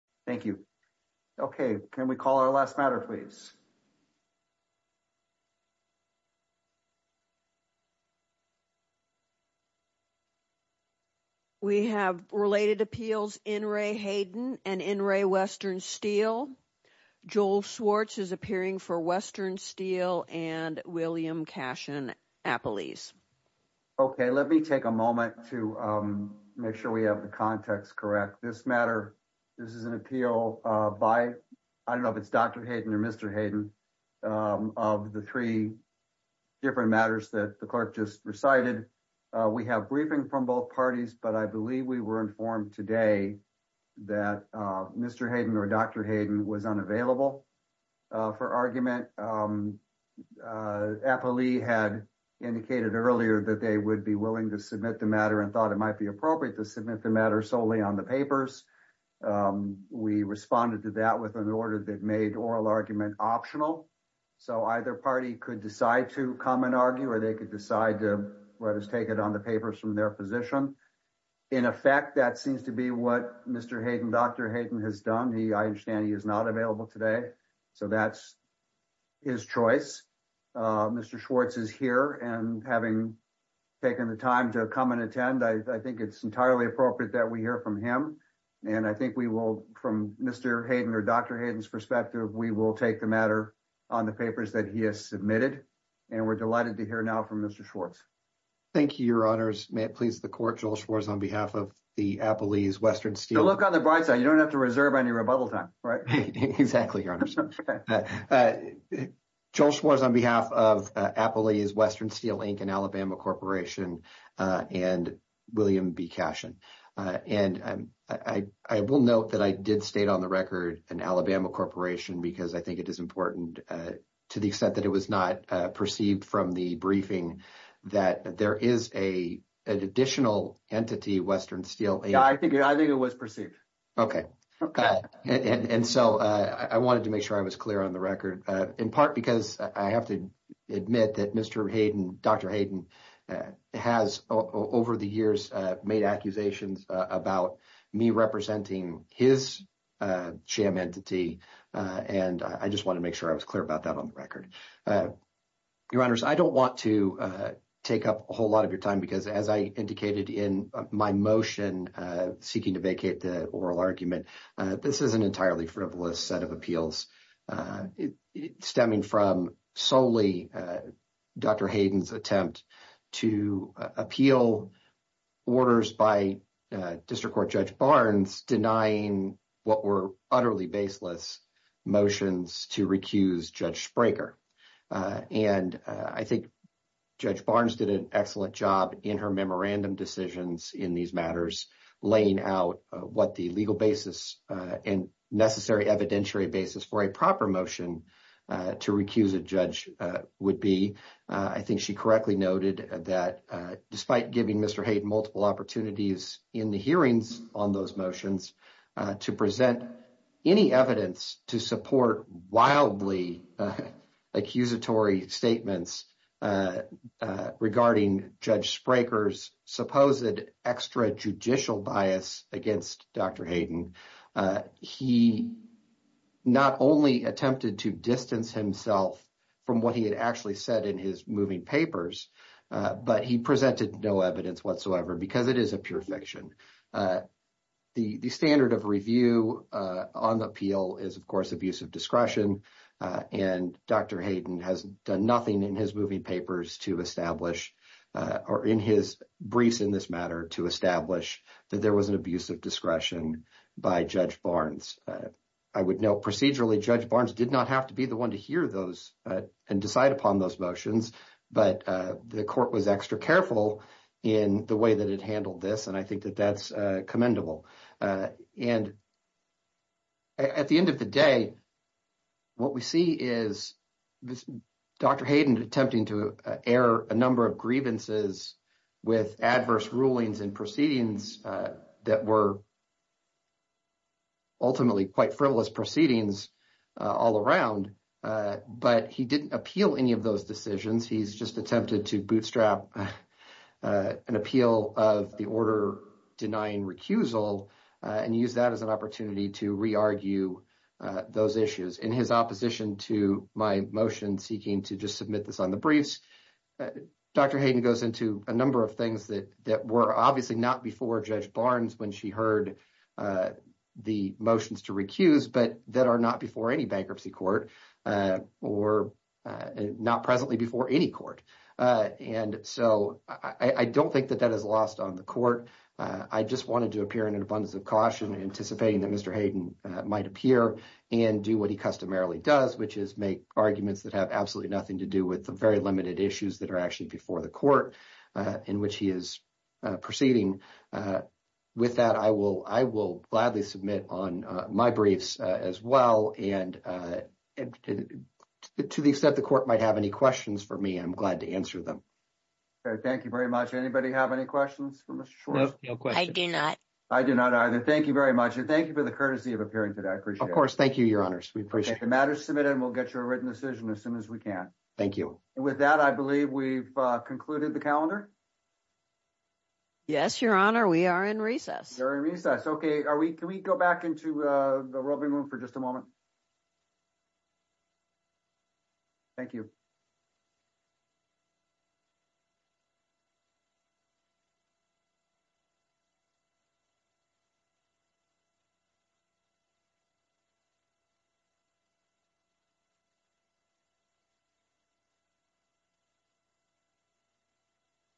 Thank you. Okay. Can we call our last matter, please. We have related appeals in Ray Hayden and in Ray Western steel. Joel Swartz is appearing for Western steel and William cash in. Apple ease. Okay, let me take a moment to make sure we have the context. Correct? This matter. This is an appeal by I don't know if it's Dr. Hayden or Mr. Hayden of the three different matters that the clerk just recited. We have briefing from both parties, but I believe we were informed today that Mr. Hayden or Dr. Hayden was unavailable for argument. Appley had indicated earlier that they would be willing to submit the matter and thought it might be appropriate to submit the matter solely on the papers. We responded to that with an order that made oral argument optional. So either party could decide to come and argue or they could decide to let us take it on the papers from their position. In effect, that seems to be what Mr. Hayden Dr. Hayden has done. He I understand he is not available today. So that's his choice. Mr. Schwartz is here and having taken the time to come and attend. I think it's entirely appropriate that we hear from him. And I think we will from Mr. Hayden or Dr. Hayden's perspective. We will take the matter on the papers that he has submitted and we're delighted to hear now from Mr. Schwartz. Thank you, Your Honors. May it please the court. Joel Schwartz on behalf of the Appley's Western Steel. Look on the bright side. You don't have to reserve any rebuttal time. Right. Exactly. Joel Schwartz on behalf of Appley's Western Steel, Inc. and Alabama Corporation and William B. Cashion. And I will note that I did state on the record and Alabama Corporation, because I think it is important to the extent that it was not perceived from the briefing that there is a additional entity, Western Steel. I think I think it was perceived. Okay. Okay. And so I wanted to make sure I was clear on the record, in part, because I have to admit that Mr. Hayden. Dr. Hayden has over the years made accusations about me representing his champ entity. And I just want to make sure I was clear about that on the record. Your honors, I don't want to take up a whole lot of your time, because, as I indicated in my motion seeking to vacate the oral argument. This is an entirely frivolous set of appeals stemming from solely Dr. Hayden's attempt to appeal. Orders by district court Judge Barnes denying what were utterly baseless motions to recuse Judge Breaker. And I think Judge Barnes did an excellent job in her memorandum decisions in these matters, laying out what the legal basis and necessary evidentiary basis for a proper motion to recuse a judge would be. I think she correctly noted that despite giving Mr. Hayden multiple opportunities in the hearings on those motions to present any evidence to support wildly accusatory statements. Regarding Judge Breaker's supposed extra judicial bias against Dr. Hayden, he not only attempted to distance himself from what he had actually said in his moving papers, but he presented no evidence whatsoever because it is a pure fiction. The standard of review on the appeal is, of course, abuse of discretion, and Dr. Hayden has done nothing in his moving papers to establish or in his briefs in this matter to establish that there was an abuse of discretion by Judge Barnes. I would note procedurally Judge Barnes did not have to be the one to hear those and decide upon those motions, but the court was extra careful in the way that it handled this, and I think that that's commendable. And at the end of the day, what we see is Dr. Hayden attempting to air a number of grievances with adverse rulings and proceedings that were ultimately quite frivolous proceedings all around. But he didn't appeal any of those decisions. He's just attempted to bootstrap an appeal of the order denying recusal and use that as an opportunity to re-argue those issues. In his opposition to my motion seeking to just submit this on the briefs, Dr. Hayden goes into a number of things that were obviously not before Judge Barnes when she heard the motions to recuse, but that are not before any bankruptcy court or not presently before any court. And so I don't think that that is lost on the court. I just wanted to appear in an abundance of caution, anticipating that Mr. Hayden might appear and do what he customarily does, which is make arguments that have absolutely nothing to do with the very limited issues that are actually before the court in which he is proceeding. And with that, I will gladly submit on my briefs as well. And to the extent the court might have any questions for me, I'm glad to answer them. Okay. Thank you very much. Anybody have any questions for Mr. Schwartz? No, no questions. I do not. I do not either. Thank you very much. And thank you for the courtesy of appearing today. I appreciate it. Of course. Thank you, Your Honors. We appreciate it. Okay. The matter is submitted and we'll get you a written decision as soon as we can. Thank you. And with that, I believe we've concluded the calendar. Yes, Your Honor. We are in recess. You're in recess. Okay. Can we go back into the roving room for just a moment? Thank you.